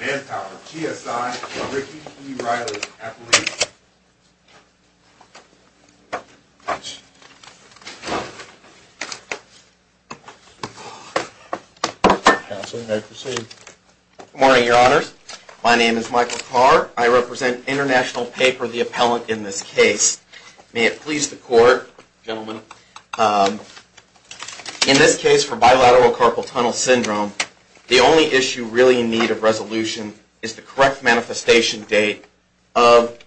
Manpower, GSI, and Ricky E. Reilly, Appellate. Counsel, you may proceed. Good morning, Your Honors. My name is Michael Carr. I represent International Paper, the appellant in this case. May it please the Court, gentlemen, in this case for Bilateral Carpal Tunnel Syndrome, the only issue really in need of resolution is the correct manifestation date of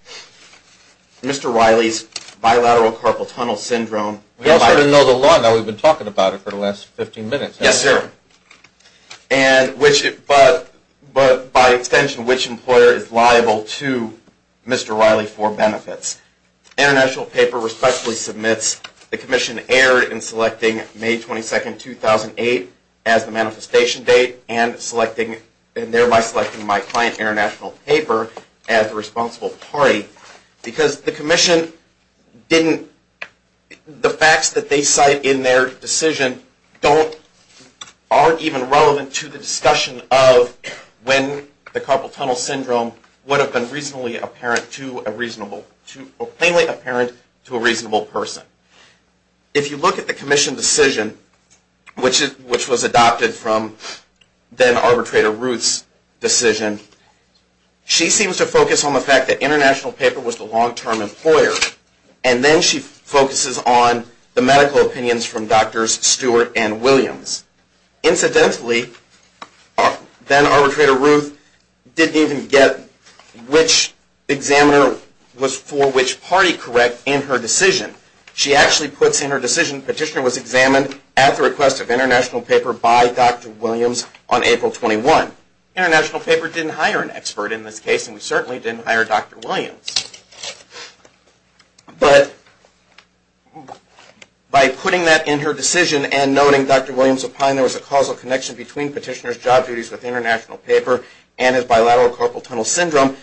Mr. Reilly's Bilateral Carpal Tunnel Syndrome. We all sort of know the law now. We've been talking about it for the last 15 minutes. Yes, sir. But by extension, which employer is liable to Mr. Reilly for benefits? International Paper respectfully submits the commission error in selecting May 22, 2008 as the manifestation date and thereby selecting my client, International Paper, as the responsible party because the commission didn't, the facts that they cite in their decision aren't even relevant to the discussion of when the Carpal Tunnel Syndrome would have been reasonably apparent to a reasonable, plainly apparent to a reasonable person. If you look at the commission decision, which was adopted from then-Arbitrator Ruth's decision, she seems to focus on the fact that International Paper was the long-term employer and then she focuses on the medical opinions from Drs. Stewart and Williams. Incidentally, then-Arbitrator Ruth didn't even get which examiner was for which party correct in her decision. She actually puts in her decision, Petitioner was examined at the request of International Paper by Dr. Williams on April 21. International Paper didn't hire an expert in this case and we certainly didn't hire Dr. Williams. But by putting that in her decision and noting Dr. Williams opined there was a causal connection between Petitioner's job duties with International Paper and his bilateral Carpal Tunnel Syndrome,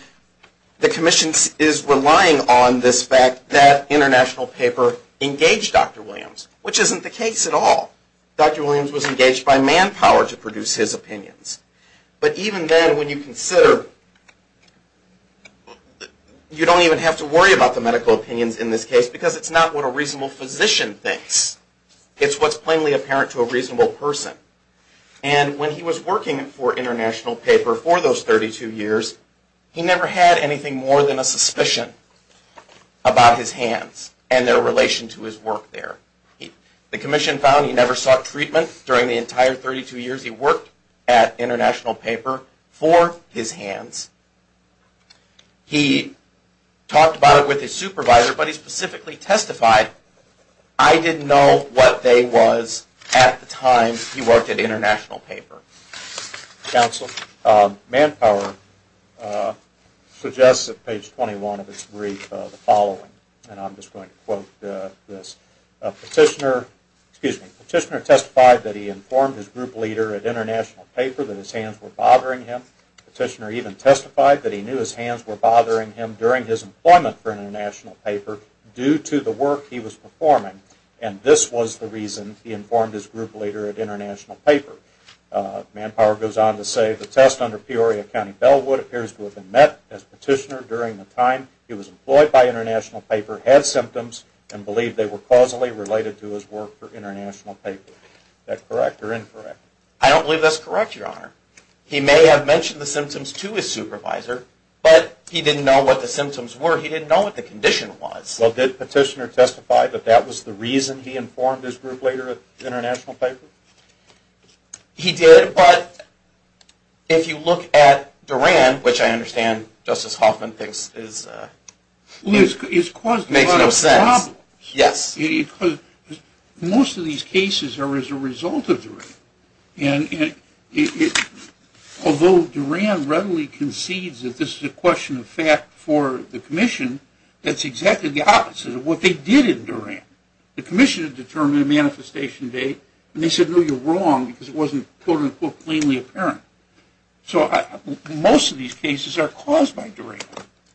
the commission is relying on this fact that International Paper engaged Dr. Williams, which isn't the case at all. Dr. Williams was engaged by manpower to produce his opinions. But even then, when you consider, you don't even have to worry about the medical opinions in this case because it's not what a reasonable physician thinks. It's what's plainly apparent to a reasonable person. And when he was working for International Paper for those 32 years, he never had anything more than a suspicion about his hands and their relation to his work there. The commission found he never sought treatment during the entire 32 years he worked at International Paper for his hands. He talked about it with his supervisor, but he specifically testified, I didn't know what they was at the time he worked at International Paper. Council, manpower suggests at page 21 of its brief the following, and I'm just going to quote this. Petitioner testified that he informed his group leader at International Paper that his hands were bothering him. Petitioner even testified that he knew his hands were bothering him during his employment for International Paper due to the work he was performing. And this was the reason he informed his group leader at International Paper. Manpower goes on to say, the test under Peoria County Bellwood appears to have been met as Petitioner, during the time he was employed by International Paper, had symptoms and believed they were causally related to his work for International Paper. Is that correct or incorrect? I don't believe that's correct, Your Honor. He may have mentioned the symptoms to his supervisor, but he didn't know what the symptoms were. He didn't know what the condition was. Well, did Petitioner testify that that was the reason he informed his group leader at International Paper? He did, but if you look at Duran, which I understand Justice Hoffman thinks is... Well, it's caused a lot of problems. Yes. Most of these cases are as a result of Duran. And although Duran readily concedes that this is a question of fact for the Commission, that's exactly the opposite of what they did in Duran. The Commission had determined a manifestation date, and they said, no, you're wrong because it wasn't quote-unquote cleanly apparent. So most of these cases are caused by Duran.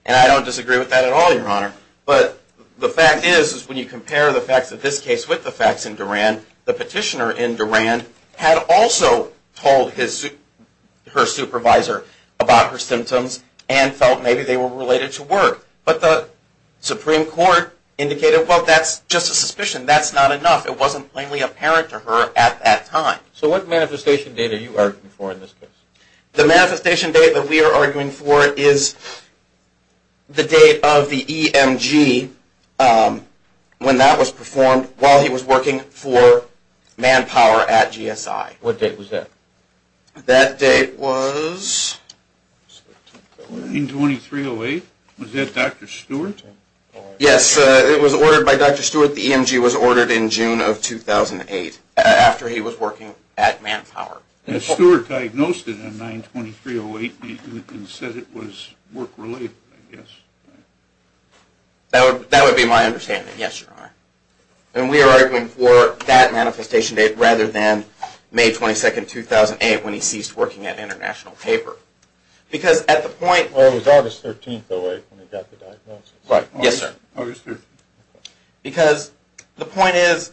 And I don't disagree with that at all, Your Honor. But the fact is, when you compare the facts of this case with the facts in Duran, the Petitioner in Duran had also told her supervisor about her symptoms and felt maybe they were related to work. But the Supreme Court indicated, well, that's just a suspicion. That's not enough. It wasn't plainly apparent to her at that time. So what manifestation date are you arguing for in this case? The manifestation date that we are arguing for is the date of the EMG, when that was performed while he was working for Manpower at GSI. What date was that? That date was? 9-23-08. Was that Dr. Stewart? Yes. It was ordered by Dr. Stewart. The EMG was ordered in June of 2008 after he was working at Manpower. Stewart diagnosed it on 9-23-08 and said it was work-related, I guess. That would be my understanding, yes, Your Honor. We are arguing for that manifestation date rather than May 22, 2008, when he ceased working at International Paper. It was August 13-08 when he got the diagnosis. Yes, sir. The point is,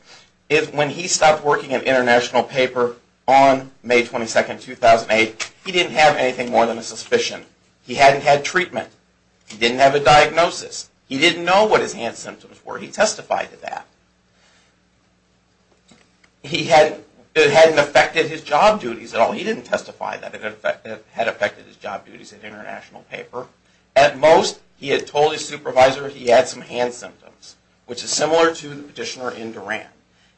when he stopped working at International Paper on May 22, 2008, he didn't have anything more than a suspicion. He hadn't had treatment. He didn't have a diagnosis. He didn't know what his hand symptoms were. He testified to that. It hadn't affected his job duties at all. He didn't testify that it had affected his job duties at International Paper. At most, he had told his supervisor he had some hand symptoms, which is similar to the petitioner in Duran.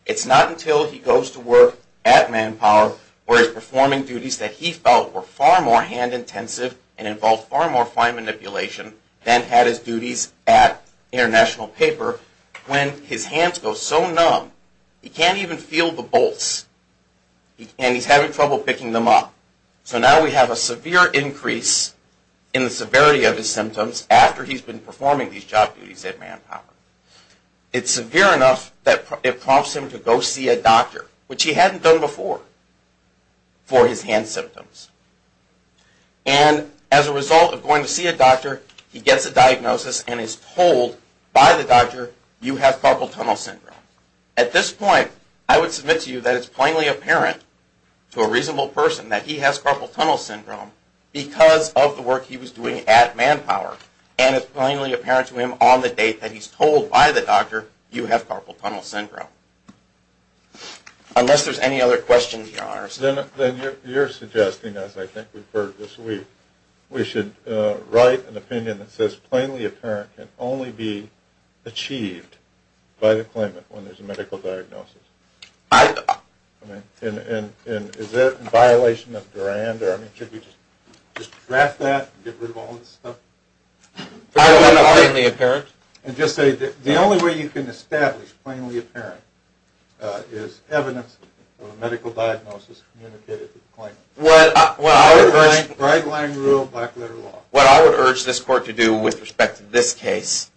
It's not until he goes to work at Manpower where he's performing duties that he felt were far more hand-intensive and involved far more fine manipulation than had his duties at International Paper. When his hands go so numb, he can't even feel the bolts, and he's having trouble picking them up. So now we have a severe increase in the severity of his symptoms after he's been performing these job duties at Manpower. It's severe enough that it prompts him to go see a doctor, which he hadn't done before for his hand symptoms. And as a result of going to see a doctor, he gets a diagnosis and is told by the doctor, you have carpal tunnel syndrome. At this point, I would submit to you that it's plainly apparent to a reasonable person that he has carpal tunnel syndrome because of the work he was doing at Manpower, and it's plainly apparent to him on the date that he's told by the doctor, you have carpal tunnel syndrome. Unless there's any other questions, Your Honors. Then you're suggesting, as I think we've heard this week, we should write an opinion that says plainly apparent can only be achieved by the claimant when there's a medical diagnosis. And is that in violation of Durand? I mean, should we just draft that and get rid of all this stuff? Plainly apparent? And just say that the only way you can establish plainly apparent is evidence of a medical diagnosis communicated to the claimant. What I would urge this court to do with respect to this case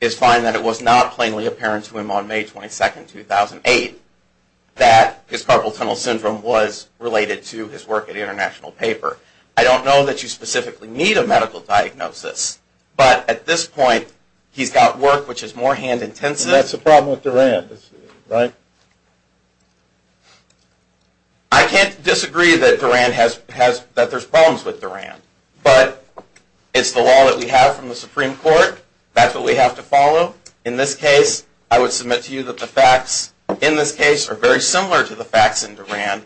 is find that it was not plainly apparent to him on May 22, 2008, that his carpal tunnel syndrome was related to his work at International Paper. I don't know that you specifically need a medical diagnosis, but at this point, he's got work which is more hand-intensive. That's the problem with Durand, right? I can't disagree that there's problems with Durand, but it's the law that we have from the Supreme Court. That's what we have to follow. In this case, I would submit to you that the facts in this case are very similar to the facts in Durand,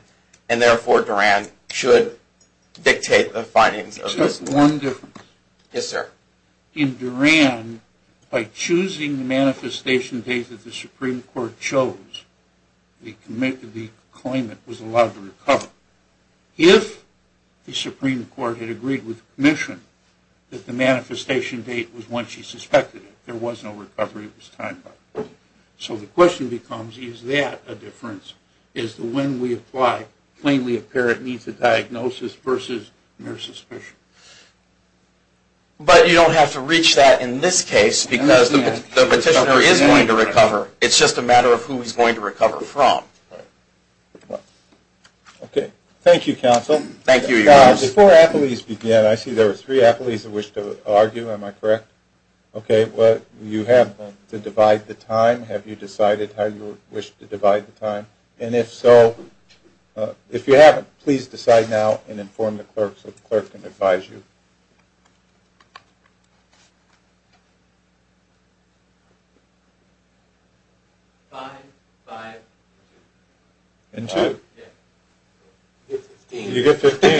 and therefore Durand should dictate the findings of this case. Just one difference. Yes, sir. In Durand, by choosing the manifestation date that the Supreme Court chose, the claimant was allowed to recover. If the Supreme Court had agreed with the commission that the manifestation date was when she suspected it, there was no recovery of his time. So the question becomes, is that a difference? Is the when we apply plainly apparent means a diagnosis versus mere suspicion? But you don't have to reach that in this case, because the petitioner is going to recover. It's just a matter of who he's going to recover from. Okay. Thank you, counsel. Thank you. Before appellees begin, I see there are three appellees who wish to argue. Am I correct? Okay. You have to divide the time. Have you decided how you wish to divide the time? And if so, if you haven't, please decide now and inform the clerk so the clerk can advise you. Five, five, five. And two. You get 15. You get 15.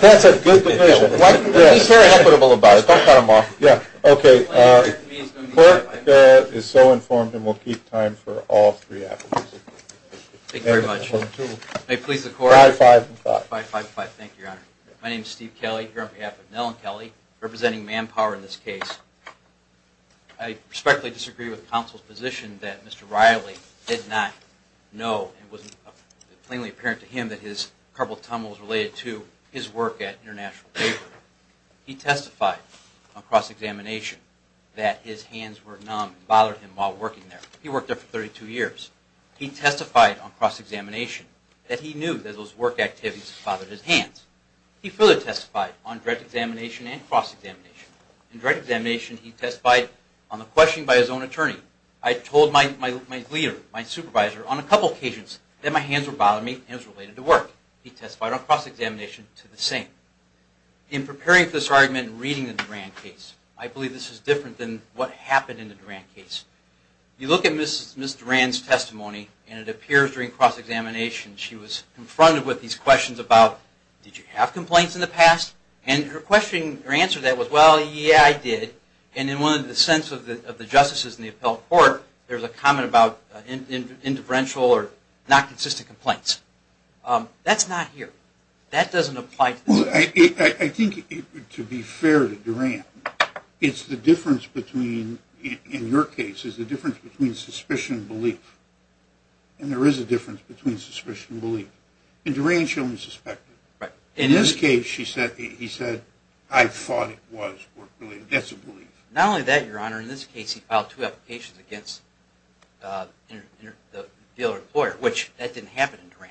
That's a good division. He's very equitable about it. Don't cut him off. Yeah. Okay. Clerk is so informed and will keep time for all three appellees. Thank you very much. May it please the court. Five, five, five. Five, five, five. Thank you, Your Honor. My name is Steve Kelly here on behalf of Nell and Kelly, representing Manpower in this case. I respectfully disagree with counsel's position that Mr. Riley did not know and it wasn't plainly apparent to him that his carpal tunnel was related to his work at International Paper. He testified on cross-examination that his hands were numb and bothered him while working there. He worked there for 32 years. He testified on cross-examination that he knew that those work activities bothered his hands. He further testified on direct examination and cross-examination. In direct examination, he testified on a question by his own attorney. I told my leader, my supervisor on a couple occasions that my hands were bothering me and it was related to work. He testified on cross-examination to the same. In preparing for this argument and reading the Duran case, I believe this is different than what happened in the Duran case. You look at Ms. Duran's testimony and it appears during cross-examination she was confronted with these questions about, did you have complaints in the past? And her answer to that was, well, yeah, I did. And in the sense of the justices in the appellate court, there's a comment about indifferential or not consistent complaints. That's not here. That doesn't apply to this case. Well, I think to be fair to Duran, it's the difference between, in your case, it's the difference between suspicion and belief. And there is a difference between suspicion and belief. In Duran, she only suspected. In this case, he said, I thought it was work-related. That's a belief. Not only that, Your Honor, in this case, he filed two applications against the dealer-employer, which that didn't happen in Duran.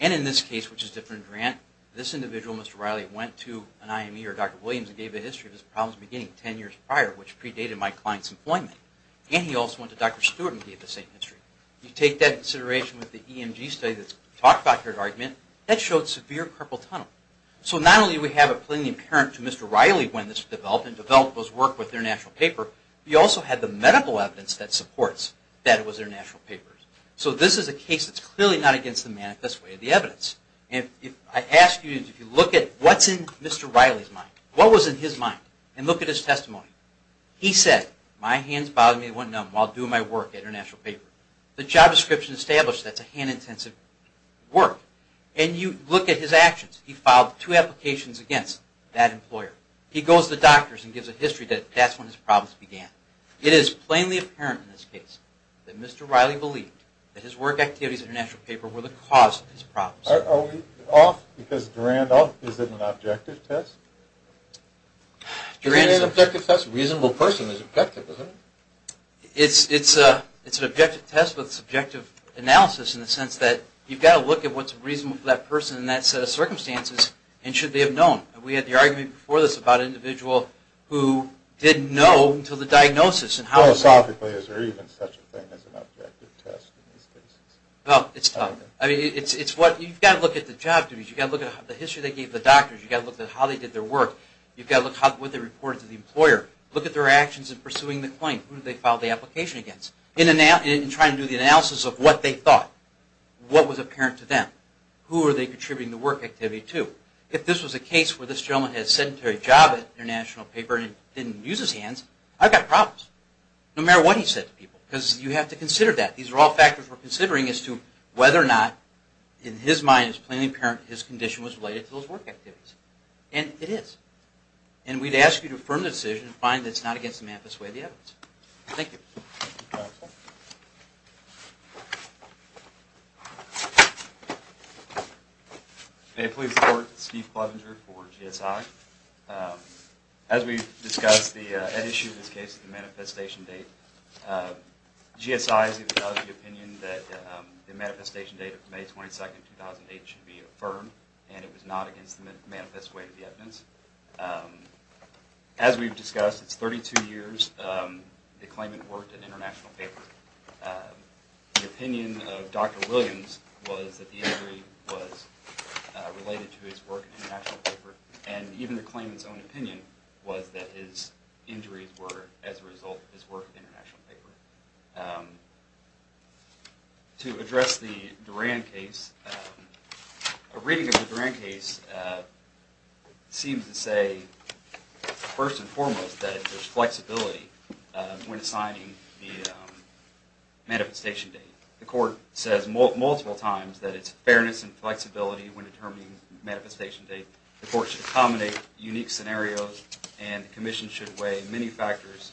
And in this case, which is different in Duran, this individual, Mr. Riley, went to an IME or Dr. Williams and gave a history of his problems beginning 10 years prior, which predated my client's employment. And he also went to Dr. Stewart and gave the same history. You take that into consideration with the EMG study that's talked about here, the argument, that showed severe carpal tunnel. So not only do we have it plainly apparent to Mr. Riley when this was developed, and developed was work with their national paper, we also had the medical evidence that supports that it was their national papers. So this is a case that's clearly not against the manifest way of the evidence. I ask you to look at what's in Mr. Riley's mind. What was in his mind? And look at his testimony. He said, my hands bothered me and went numb while doing my work at international paper. The job description established that's a hand-intensive work. And you look at his actions. He filed two applications against that employer. He goes to the doctors and gives a history that that's when his problems began. It is plainly apparent in this case that Mr. Riley believed that his work activities at international paper were the cause of his problems. Are we off because Durand off? Is it an objective test? Durand is an objective test. A reasonable person is objective, isn't it? It's an objective test with subjective analysis in the sense that you've got to look at what's reasonable for that person in that set of circumstances and should they have known. We had the argument before this about an individual who didn't know until the diagnosis. Philosophically, is there even such a thing as an objective test in these cases? Well, it's tough. You've got to look at the job description. You've got to look at the history they gave the doctors. You've got to look at how they did their work. You've got to look at what they reported to the employer. Look at their actions in pursuing the claim. Who did they file the application against? And try to do the analysis of what they thought. What was apparent to them? Who were they contributing the work activity to? If this was a case where this gentleman had a sedentary job at international paper and didn't use his hands, I've got problems. No matter what he said to people. Because you have to consider that. These are all factors we're considering as to whether or not, in his mind, it's plainly apparent his condition was related to those work activities. And it is. And we'd ask you to affirm the decision and find that it's not against the Manifest Way of the evidence. Thank you. May I please report to Steve Clevenger for GSR? As we discussed at issue of this case, the manifestation date, GSI is of the opinion that the manifestation date of May 22, 2008 should be affirmed. And it was not against the Manifest Way of the evidence. As we've discussed, it's 32 years the claimant worked at international paper. The opinion of Dr. Williams was that the injury was related to his work at international paper. And even the claimant's own opinion was that his injuries were as a result of his work at international paper. To address the Duran case, a reading of the Duran case seems to say, first and foremost, that there's flexibility when assigning the manifestation date. The court says multiple times that it's fairness and flexibility when determining manifestation date. The court should accommodate unique scenarios. And the commission should weigh many factors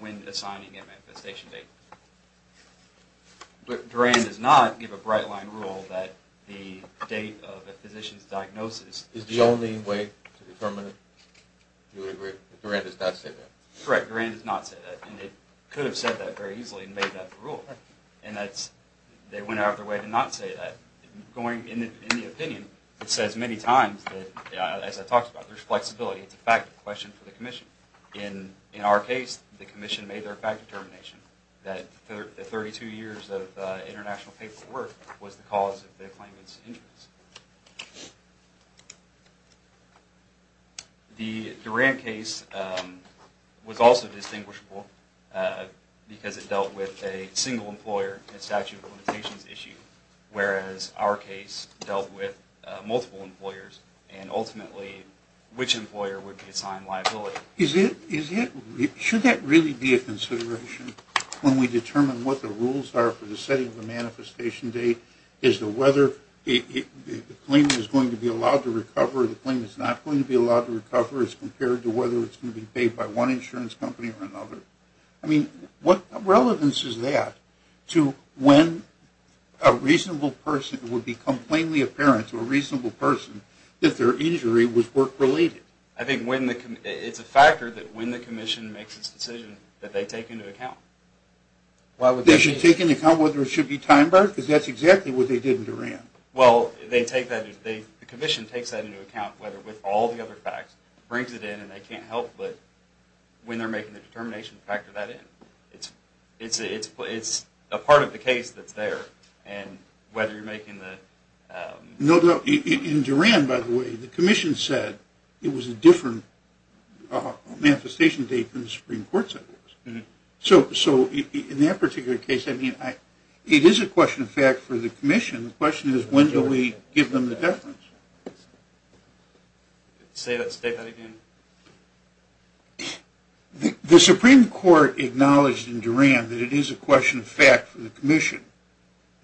when assigning a manifestation date. Duran does not give a bright line rule that the date of a physician's diagnosis... Is the only way to determine it? Do you agree that Duran does not say that? Correct, Duran does not say that. And it could have said that very easily and made that the rule. And they went out of their way to not say that. In the opinion, it says many times that, as I talked about, there's flexibility. It's a fact question for the commission. In our case, the commission made their fact determination that the 32 years of international paperwork was the cause of the claimant's injuries. The Duran case was also distinguishable because it dealt with a single employer and statute of limitations issue. Whereas our case dealt with multiple employers. And ultimately, which employer would be assigned liability? Should that really be a consideration when we determine what the rules are for the setting of the manifestation date? Is the claimant going to be allowed to recover? Is the claimant not going to be allowed to recover as compared to whether it's going to be paid by one insurance company or another? What relevance is that to when a reasonable person would become plainly apparent to a reasonable person that their injury was work-related? I think it's a factor that when the commission makes its decision that they take into account. They should take into account whether it should be time-barred? Because that's exactly what they did with Duran. Well, the commission takes that into account with all the other facts. It brings it in and they can't help but, when they're making the determination, factor that in. It's a part of the case that's there. In Duran, by the way, the commission said it was a different manifestation date than the Supreme Court said it was. So, in that particular case, it is a question of fact for the commission. The question is, when do we give them the deference? Say that again. The Supreme Court acknowledged in Duran that it is a question of fact for the commission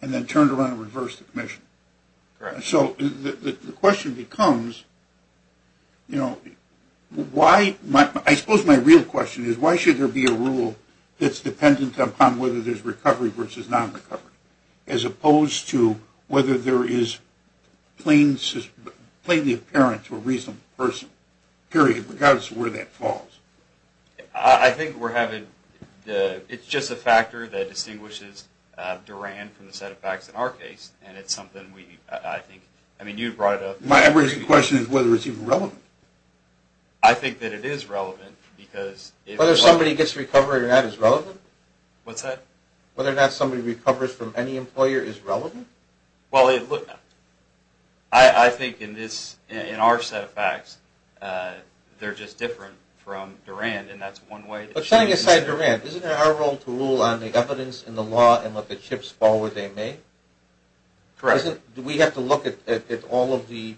and then turned around and reversed the commission. So, the question becomes, I suppose my real question is, why should there be a rule that's dependent upon whether there's recovery versus non-recovery? As opposed to whether there is plainly apparent to a reasonable person, period, regardless of where that falls. I think it's just a factor that distinguishes Duran from the set of facts in our case. My question is whether it's even relevant. I think that it is relevant. Whether somebody gets recovery or not is relevant? I think in our set of facts, they're just different from Duran. Setting aside Duran, isn't it our role to rule on the evidence in the law and what the chips fall where they may? Do we have to look at all of the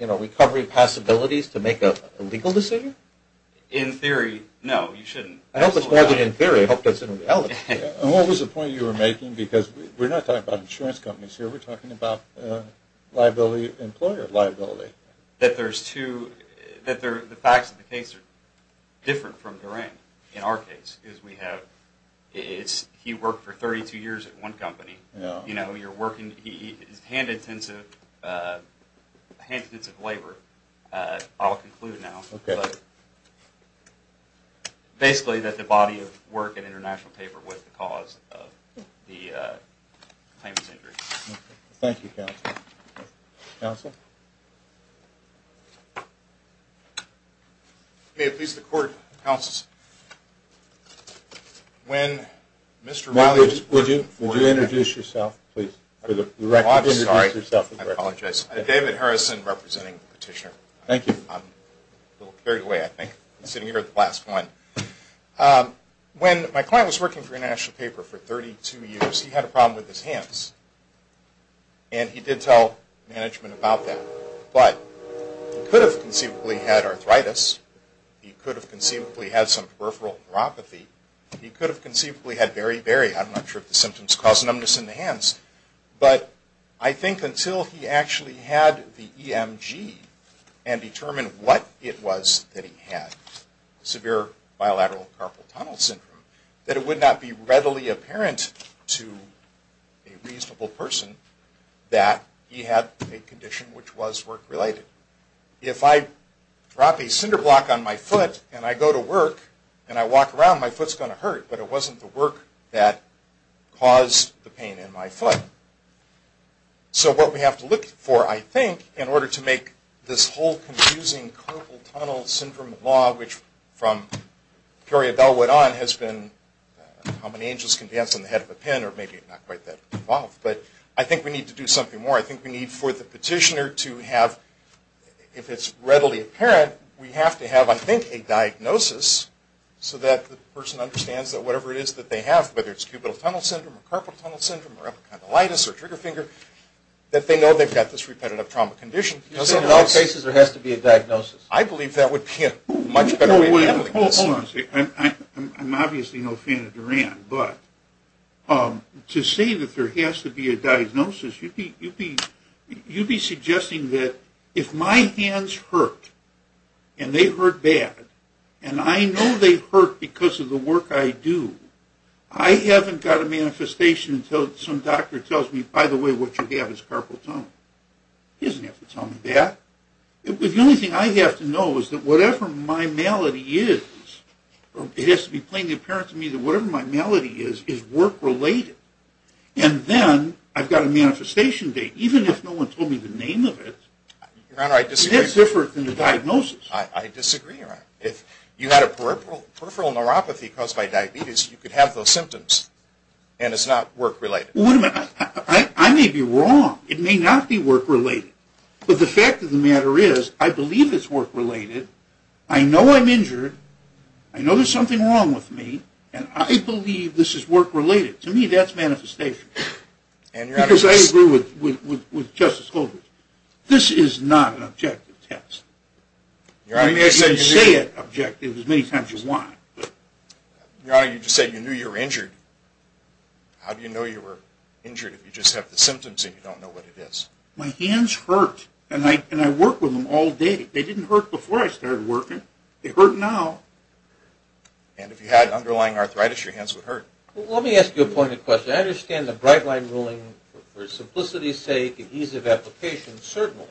recovery possibilities to make a legal decision? In theory, no. What was the point you were making? We're not talking about insurance companies here. We're talking about employer liability. The facts of the case are different from Duran in our case. He worked for 32 years at one company. Hand-intensive labor, I'll conclude now. Basically, the body of work in international paper was the cause of the claimant's injury. Thank you, counsel. May it please the Court, when Mr. Riley... Would you introduce yourself, please? I'm David Harrison, representing the petitioner. When my client was working for international paper for 32 years, he had a problem with his hands. He did tell management about that. He could have conceivably had arthritis. He could have conceivably had some peripheral neuropathy. He could have conceivably had very, very, I'm not sure if the symptoms cause numbness in the hands, but I think until he actually had the EMG and determined what it was that he had, severe bilateral carpal tunnel syndrome, that it would not be readily apparent to a reasonable person that he had a condition which was work-related. If I drop a cinder block on my foot and I go to work and I walk around, my foot's going to hurt, but it wasn't the work that caused the pain in my foot. So what we have to look for, I think, in order to make this whole confusing carpal tunnel syndrome law, which from Peoria Bellwood on has been how many angels can dance on the head of a pin, or maybe not quite that involved, but I think we need to do something more. I think we need for the petitioner to have, if it's readily apparent, we have to have, I think, a diagnosis so that the person understands that whatever it is that they have, whether it's cubital tunnel syndrome, carpal tunnel syndrome, or epicondylitis, or trigger finger, that they know they've got this repetitive trauma condition. In all cases, there has to be a diagnosis. I believe that would be a much better way of handling this. Hold on a second. I'm obviously no fan of Duran, but to say that there has to be a diagnosis, you'd be suggesting that if my hands hurt and they hurt bad, and I know they hurt because of the work I do, I haven't got a manifestation until some doctor tells me, by the way, what you have is carpal tunnel. He doesn't have to tell me that. The only thing I have to know is that whatever my malady is, it has to be plainly apparent to me that whatever my malady is, is work-related. And then I've got a manifestation date, even if no one told me the name of it. Your Honor, I disagree. It is different than the diagnosis. I disagree, Your Honor. If you had a peripheral neuropathy caused by diabetes, you could have those symptoms, and it's not work-related. I may be wrong. It may not be work-related. But the fact of the matter is, I believe it's work-related. I know I'm injured. I know there's something wrong with me. And I believe this is work-related. To me, that's manifestation. Because I agree with Justice Holder. This is not an objective test. You can say it's objective as many times as you want. Your Honor, you just said you knew you were injured. How do you know you were injured if you just have the symptoms and you don't know what it is? My hands hurt, and I work with them all day. They didn't hurt before I started working. They hurt now. And if you had underlying arthritis, your hands would hurt. Well, let me ask you a pointed question. I understand the Bright Line ruling, for simplicity's sake and ease of application, certainly.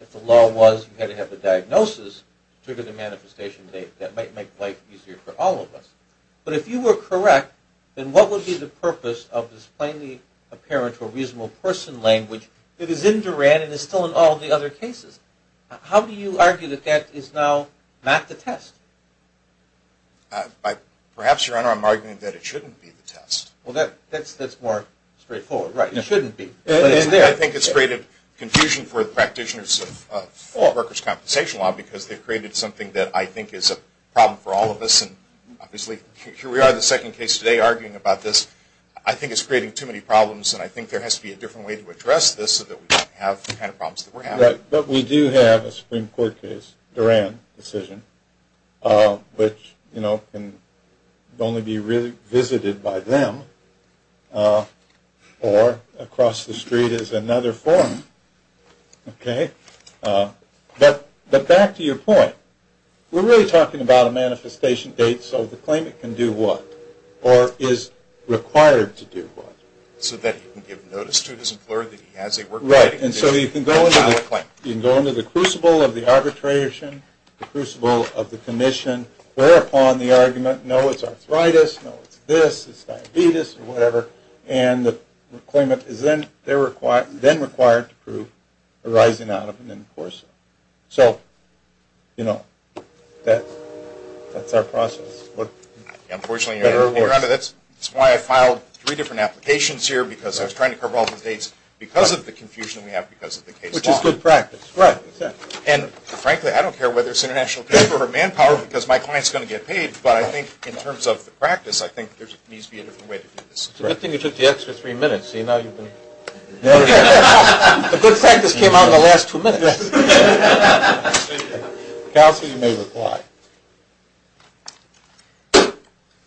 If the law was you had to have a diagnosis to trigger the manifestation date, that might make life easier for all of us. But if you were correct, then what would be the purpose of this plainly apparent or reasonable person language that is in Duran and is still in all the other cases? How do you argue that that is now not the test? Perhaps, Your Honor, I'm arguing that it shouldn't be the test. Well, that's more straightforward. Right, it shouldn't be. I think it's created confusion for the practitioners of workers' compensation law because they've created something that I think is a problem for all of us. And obviously, here we are in the second case today arguing about this. I think it's creating too many problems, and I think there has to be a different way to address this so that we don't have the kind of problems that we're having. But we do have a Supreme Court case, Duran decision, which can only be visited by them or across the street is another forum. Okay, but back to your point. We're really talking about a manifestation date, so the claimant can do what or is required to do what. So that he can give notice to his employer that he has a work-related condition. Right, and so you can go into the crucible of the arbitration, the crucible of the commission, whereupon the argument, no, it's arthritis, no, it's this, it's diabetes or whatever, and the claimant is then required to prove arising out of an enforcement. So, you know, that's our process. Unfortunately, that's why I filed three different applications here, because I was trying to cover all the dates because of the confusion we have because of the case law. Which is good practice, right. And frankly, I don't care whether it's international trade or manpower because my client's going to get paid, but I think in terms of practice, I think there needs to be a different way to do this. It's a good thing you took the extra three minutes. A good practice came out in the last two minutes. Counsel, you may reply.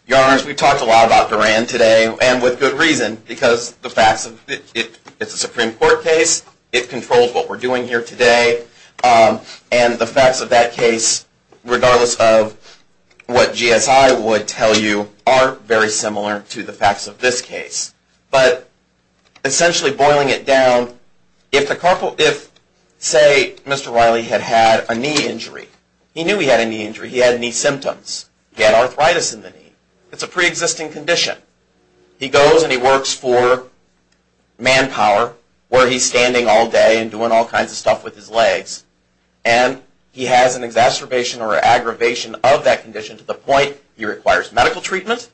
Your Honor, as we talked a lot about Duran today, and with good reason, because it's a Supreme Court case, it controls what we're doing here today, and the facts of that case, regardless of what GSI would tell you, are very similar to the facts of this case. But essentially boiling it down, if say Mr. Riley had had a knee injury, he knew he had a knee injury, he had knee symptoms, he had arthritis in the knee, it's a pre-existing condition. He goes and he works for manpower where he's standing all day and doing all kinds of stuff with his legs, and he has an exacerbation or aggravation of that condition to the point he requires medical treatment,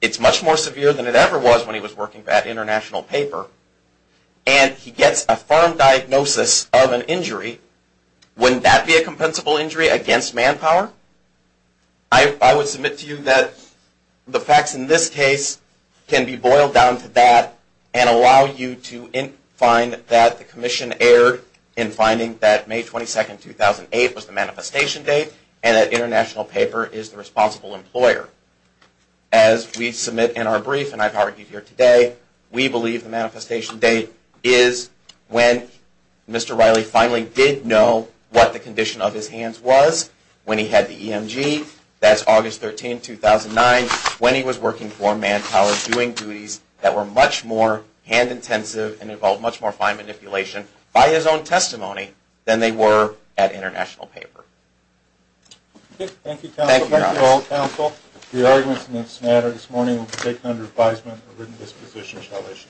it's much more severe than it ever was when he was working for that international paper, and he gets a firm diagnosis of an injury, wouldn't that be a compensable injury against manpower? I would submit to you that the facts in this case can be boiled down to that and allow you to find that the commission erred in finding that May 22, 2008 was the manifestation date, and that international paper is the responsible employer. As we submit in our brief, and I've argued here today, we believe the manifestation date is when Mr. Riley finally did know what the condition of his hands was, when he had the EMG, that's August 13, 2009, when he was working for manpower doing duties that were much more hand intensive and involved much more fine manipulation by his own testimony than they were at international paper. Thank you, counsel. The arguments in this matter this morning will be taken under advisement, a written disposition shall issue.